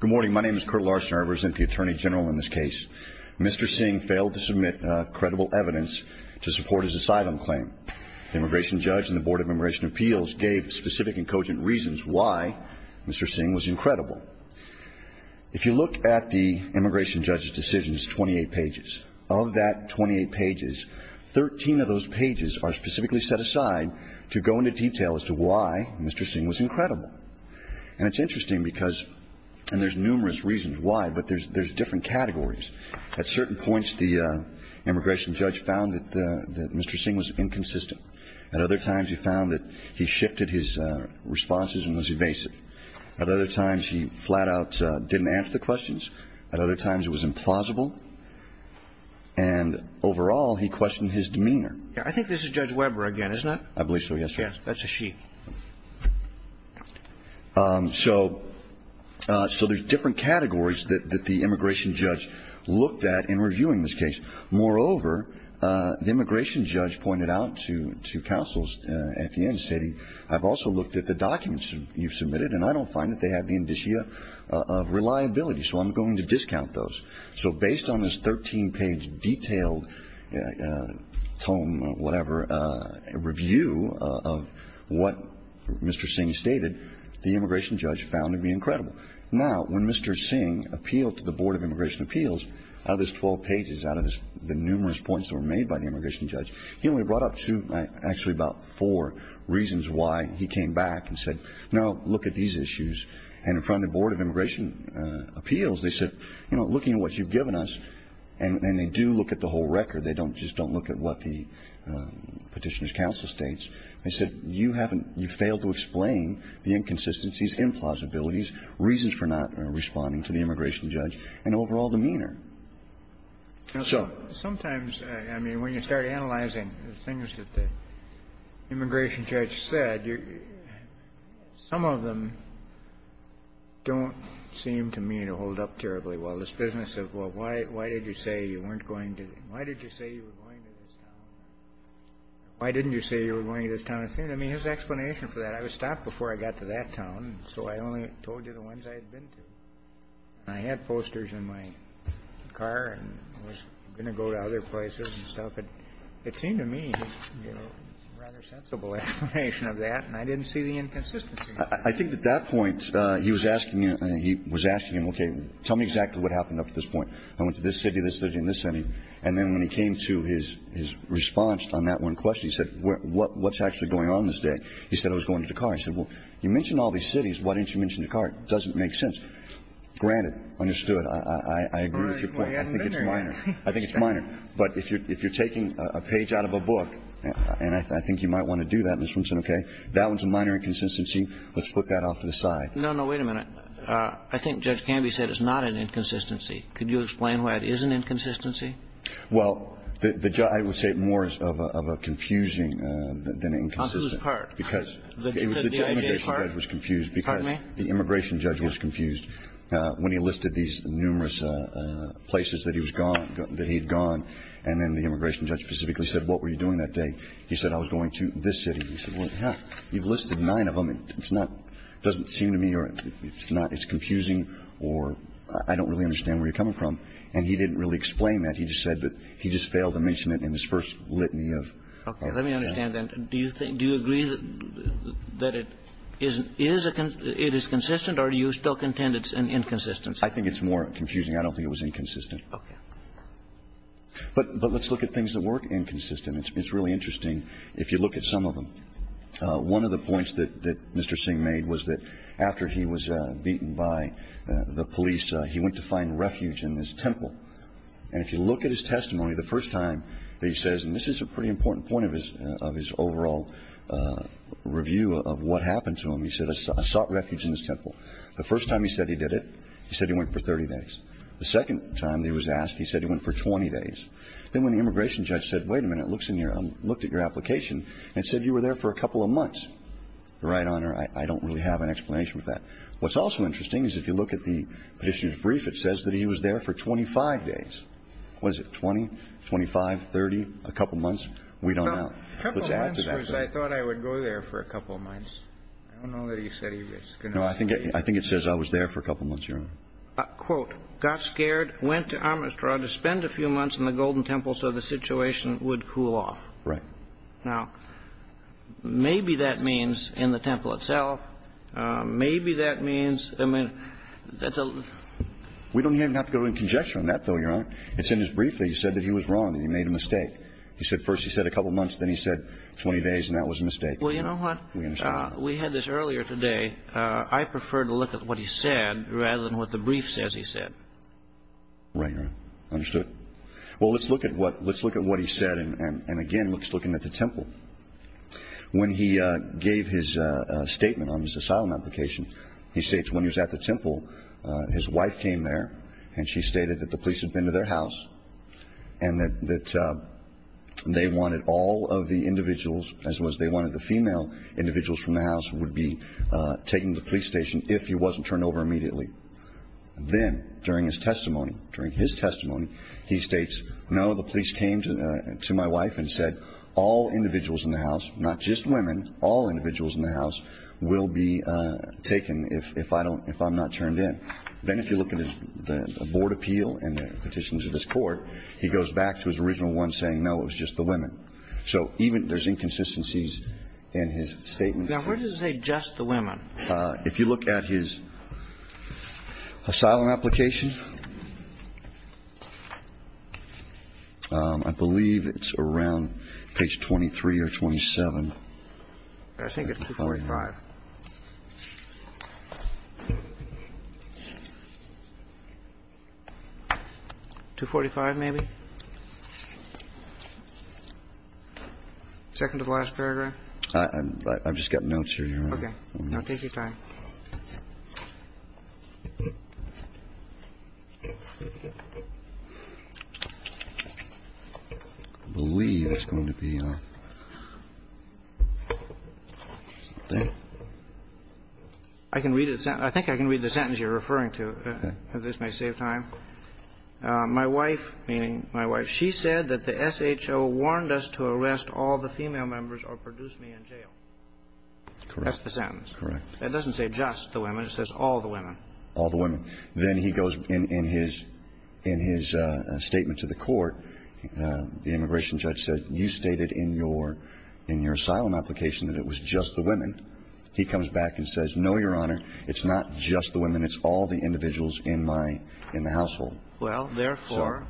Good morning. My name is Kurt Larson. I represent the Attorney General in this case. Mr. Singh failed to submit credible evidence to support his asylum claim. The immigration judge and the Board of Immigration Appeals gave specific and cogent reasons why Mr. Singh was incredible. If you look at the immigration judge's decision, it's 28 pages. Of that 28 pages, 13 of those pages are specifically set aside to go into detail as to why Mr. Singh was incredible. And it's interesting because, and there's numerous reasons why, but there's different categories. At certain points, the immigration judge found that Mr. Singh was inconsistent. At other times, he found that he shifted his responses and was evasive. At other times, he flat out didn't answer the questions. At other times, it was implausible. And overall, he questioned his demeanor. I think this is Judge Weber again, isn't it? I believe so, yes, sir. Yes, that's a she. So there's different categories that the immigration judge looked at in reviewing this case. Moreover, the immigration judge pointed out to counsels at the end, stating, I've also looked at the documents you've submitted, and I don't find that they have the indicia of reliability, so I'm going to discount those. So based on this 13-page detailed tome, whatever, review of what Mr. Singh stated, the immigration judge found to be incredible. Now, when Mr. Singh appealed to the Board of Immigration Appeals, out of those 12 pages, out of the numerous points that were made by the immigration judge, he only brought up two, actually about four, reasons why he came back and said, no, look at these issues. And in front of the Board of Immigration Appeals, they said, you know, looking at what you've given us, and they do look at the whole record. They don't just don't look at what the Petitioner's counsel states. They said, you haven't you failed to explain the inconsistencies, implausibilities, reasons for not responding to the immigration judge, and overall demeanor. So sometimes, I mean, when you start analyzing the things that the immigration judge said, some of them don't seem to me to hold up terribly well. This business of, well, why did you say you weren't going to the why did you say you were going to this town? Why didn't you say you were going to this town? I mean, there's an explanation for that. I was stopped before I got to that town, so I only told you the ones I had been to. I had posters in my car, and I was going to go to other places and stuff. It seemed to me, you know, a rather sensible explanation of that, and I didn't see the inconsistencies. I think at that point, he was asking you, he was asking you, okay, tell me exactly what happened up to this point. I went to this city, this city, and this city. And then when he came to his response on that one question, he said, what's actually going on this day? He said I was going to Dakar. I said, well, you mentioned all these cities. Why didn't you mention Dakar? It doesn't make sense. Granted. Understood. I agree with your point. I think it's minor. I think it's minor. But if you're taking a page out of a book, and I think you might want to do that, Mr. Wilson, okay, that one's a minor inconsistency. Let's put that off to the side. No, no. Wait a minute. I think Judge Canby said it's not an inconsistency. Could you explain why it is an inconsistency? Well, the judge – I would say it more of a confusing than inconsistent. On whose part? Because the immigration judge was confused. Pardon me? The immigration judge was confused when he listed these numerous places that he was gone, that he had gone. And then the immigration judge specifically said, what were you doing that day? He said, I was going to this city. He said, well, you've listed nine of them. It's not – it doesn't seem to me or it's not – it's confusing or I don't really understand where you're coming from. And he didn't really explain that. He just said that he just failed to mention it in his first litany of – Okay. Let me understand then. Do you think – do you agree that it is a – it is consistent or do you still contend it's an inconsistency? I think it's more confusing. I don't think it was inconsistent. Okay. But let's look at things that weren't inconsistent. It's really interesting if you look at some of them. One of the points that Mr. Singh made was that after he was beaten by the police, he went to find refuge in this temple. And if you look at his testimony, the first time that he says – and this is a pretty important point of his overall review of what happened to him. He said, I sought refuge in this temple. The first time he said he did it, he said he went for 30 days. The second time that he was asked, he said he went for 20 days. Then when the immigration judge said, wait a minute, looks in your – looked at your application and said you were there for a couple of months. Right, Honor? I don't really have an explanation for that. What's also interesting is if you look at the issue's brief, it says that he was there for 25 days. Was it 20, 25, 30, a couple of months? We don't know. A couple of months was I thought I would go there for a couple of months. I don't know that he said he was going to – No, I think it says I was there for a couple of months, Your Honor. Quote, got scared, went to Amistrad to spend a few months in the Golden Temple so the situation would cool off. Right. Now, maybe that means in the temple itself, maybe that means – I mean, that's a – We don't even have to go into conjecture on that, though, Your Honor. It's in his brief that he said that he was wrong, that he made a mistake. He said first he said a couple of months, then he said 20 days, and that was a mistake. Well, you know what? We understand. We had this earlier today. I prefer to look at what he said rather than what the brief says he said. Right, Your Honor. Understood. Well, let's look at what he said, and again, let's look at the temple. When he gave his statement on his asylum application, he states when he was at the temple, his wife came there and she stated that the police had been to their house and that they wanted all of the individuals, as well as they wanted the female individuals from the house, would be taken to the police station if he wasn't turned over immediately. Then, during his testimony, during his testimony, he states, no, the police came to my wife and said all individuals in the house, not just women, all individuals in the house will be taken if I don't – if I'm not turned in. Then if you look at the board appeal and the petitions of this Court, he goes back to his original one saying, no, it was just the women. So even – there's inconsistencies in his statement. Now, where does it say just the women? If you look at his asylum application, I believe it's around page 23 or 27. I think it's 245. 245, maybe? Second to the last paragraph? I've just got notes here. Okay. I'll take your time. I believe it's going to be there. I can read it. I think I can read the sentence you're referring to, if this may save time. My wife, meaning my wife, she said that the SHO warned us to arrest all the female members or produce me in jail. That's the sentence. Correct. It doesn't say just the women. It says all the women. All the women. Then he goes in his statement to the Court, the immigration judge said, you stated in your asylum application that it was just the women. He comes back and says, no, Your Honor, it's not just the women. It's all the individuals in my – in the household. Well, therefore,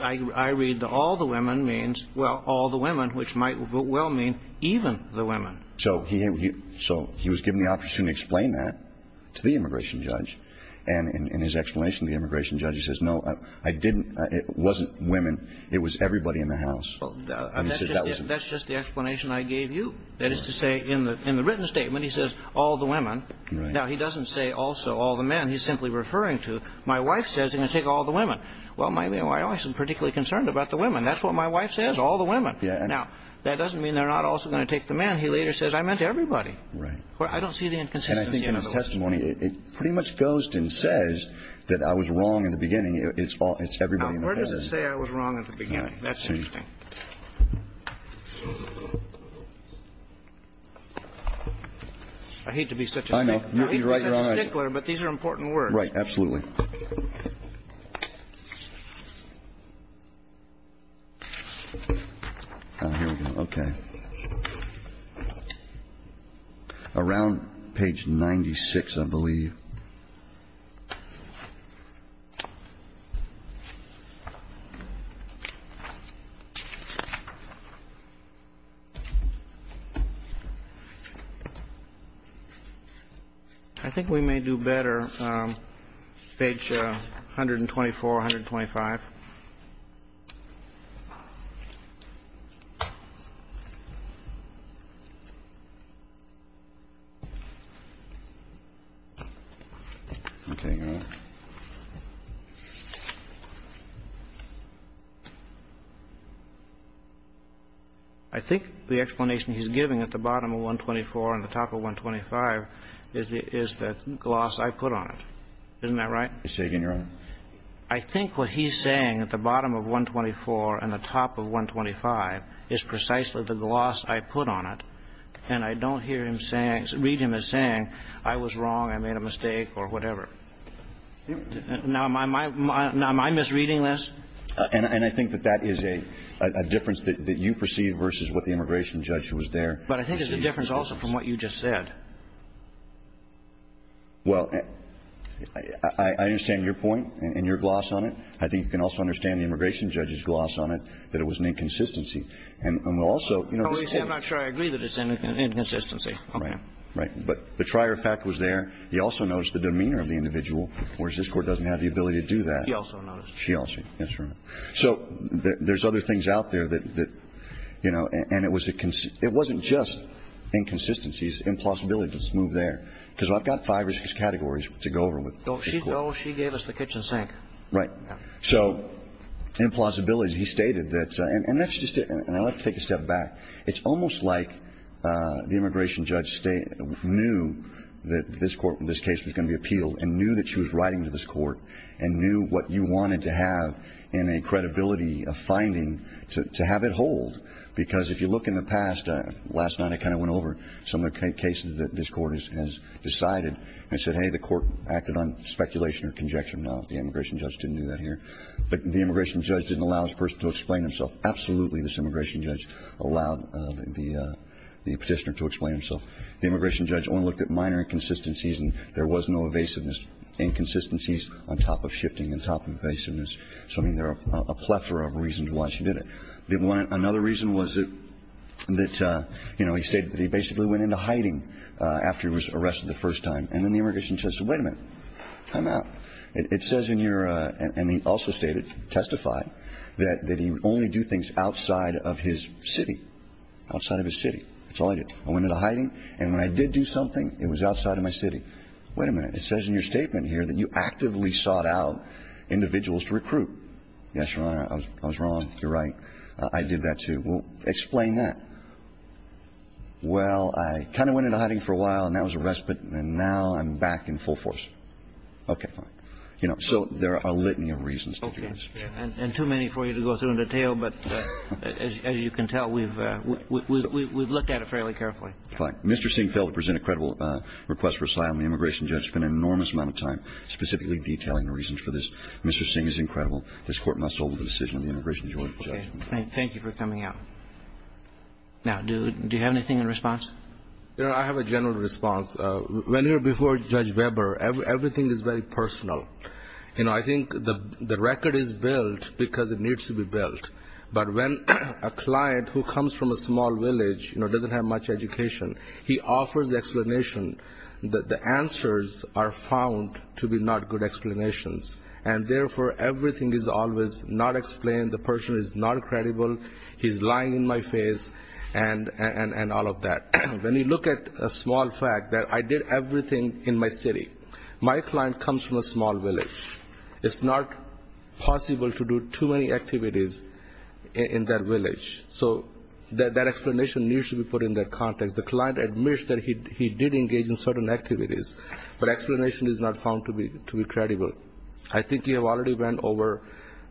I read the all the women means – well, all the women, which might well mean even the women. So he was given the opportunity to explain that to the immigration judge. And in his explanation to the immigration judge, he says, no, I didn't – it wasn't women. It was everybody in the house. That's just the explanation I gave you. That is to say, in the written statement, he says all the women. Now, he doesn't say also all the men. He's simply referring to my wife says he's going to take all the women. Well, my wife isn't particularly concerned about the women. That's what my wife says, all the women. Now, that doesn't mean they're not also going to take the men. He later says, I meant everybody. Right. I don't see the inconsistency in it. And I think in his testimony, it pretty much goes and says that I was wrong in the beginning. It's all – it's everybody in the house. Now, where does it say I was wrong in the beginning? That's interesting. I hate to be such a stickler, but these are important words. Absolutely. Here we go. Okay. Around page 96, I believe. I think we may do better. Page 124, 125. Okay. I think the explanation he's giving at the bottom of 124 and the top of 125 is the gloss I put on it. Isn't that right? It's taken, Your Honor. I think what he's saying at the bottom of 124 and the top of 125 is precisely the gloss I put on it. And I don't hear him saying – read him as saying I was wrong, I made a mistake or whatever. Now, am I misreading this? And I think that that is a difference that you perceive versus what the immigration judge was there. But I think it's a difference also from what you just said. Well, I understand your point and your gloss on it. I think you can also understand the immigration judge's gloss on it, that it was an inconsistency. And we'll also – At least I'm not sure I agree that it's an inconsistency. Right. Right. But the trier fact was there. He also noticed the demeanor of the individual, whereas this Court doesn't have the ability to do that. He also noticed. She also. That's right. So there's other things out there that, you know, and it was a – it wasn't just inconsistencies. Impossibilities move there. Because I've got five or six categories to go over with this Court. Oh, she gave us the kitchen sink. Right. So implausibilities. He stated that – and that's just – and I'd like to take a step back. It's almost like the immigration judge knew that this Court – this case was going to be appealed and knew that she was writing to this Court and knew what you wanted to have in a credibility finding to have it hold. Because if you look in the past, last night I kind of went over some of the cases that this Court has decided. And I said, hey, the Court acted on speculation or conjecture. No, the immigration judge didn't do that here. But the immigration judge didn't allow this person to explain himself. Absolutely, this immigration judge allowed the petitioner to explain himself. The immigration judge only looked at minor inconsistencies. And there was no evasiveness, inconsistencies on top of shifting and top of evasiveness. So, I mean, there are a plethora of reasons why she did it. Another reason was that, you know, he stated that he basically went into hiding after he was arrested the first time. And then the immigration judge said, wait a minute. Time out. It says in your, and he also stated, testified, that he would only do things outside of his city, outside of his city. That's all he did. I went into hiding. And when I did do something, it was outside of my city. Wait a minute. It says in your statement here that you actively sought out individuals to recruit. Yes, Your Honor, I was wrong. You're right. I did that, too. Well, explain that. Well, I kind of went into hiding for a while, and that was arrest, but now I'm back in full force. Okay, fine. You know, so there are a litany of reasons. Okay. And too many for you to go through in detail, but as you can tell, we've looked at it fairly carefully. Fine. Mr. Singh failed to present a credible request for asylum. The immigration judge spent an enormous amount of time specifically detailing the reasons for this. Mr. Singh is incredible. This Court must hold the decision of the immigration judge. Okay. Thank you for coming out. Now, do you have anything in response? Your Honor, I have a general response. When you're before Judge Weber, everything is very personal. You know, I think the record is built because it needs to be built. But when a client who comes from a small village, you know, doesn't have much education, he offers explanation, the answers are found to be not good explanations, and therefore, everything is always not explained, the person is not credible, he's lying in my face, and all of that. When you look at a small fact that I did everything in my city, my client comes from a small village. It's not possible to do too many activities in that village. So that explanation needs to be put in that context. The client admits that he did engage in certain activities, but explanation is not found to be credible. I think you have already went over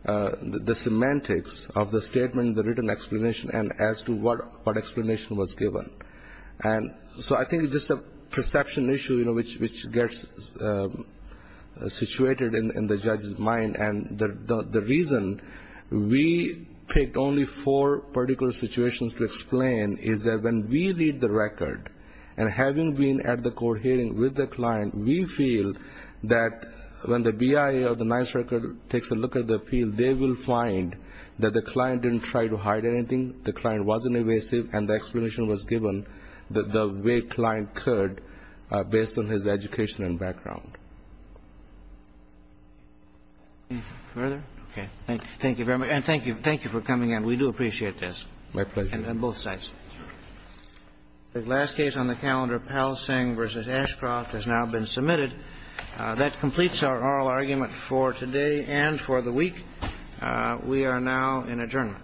the semantics of the statement, the explanation was given. And so I think it's just a perception issue, you know, which gets situated in the judge's mind. And the reason we picked only four particular situations to explain is that when we read the record, and having been at the court hearing with the client, we feel that when the BIA or the NICE record takes a look at the appeal, they will find that the client didn't try to hide anything, the explanation was given, the way the client could based on his education and background. Thank you very much. And thank you for coming in. We do appreciate this. My pleasure. On both sides. The last case on the calendar, Palsing v. Ashcroft, has now been submitted. That completes our oral argument for today and for the week. We are now in adjournment.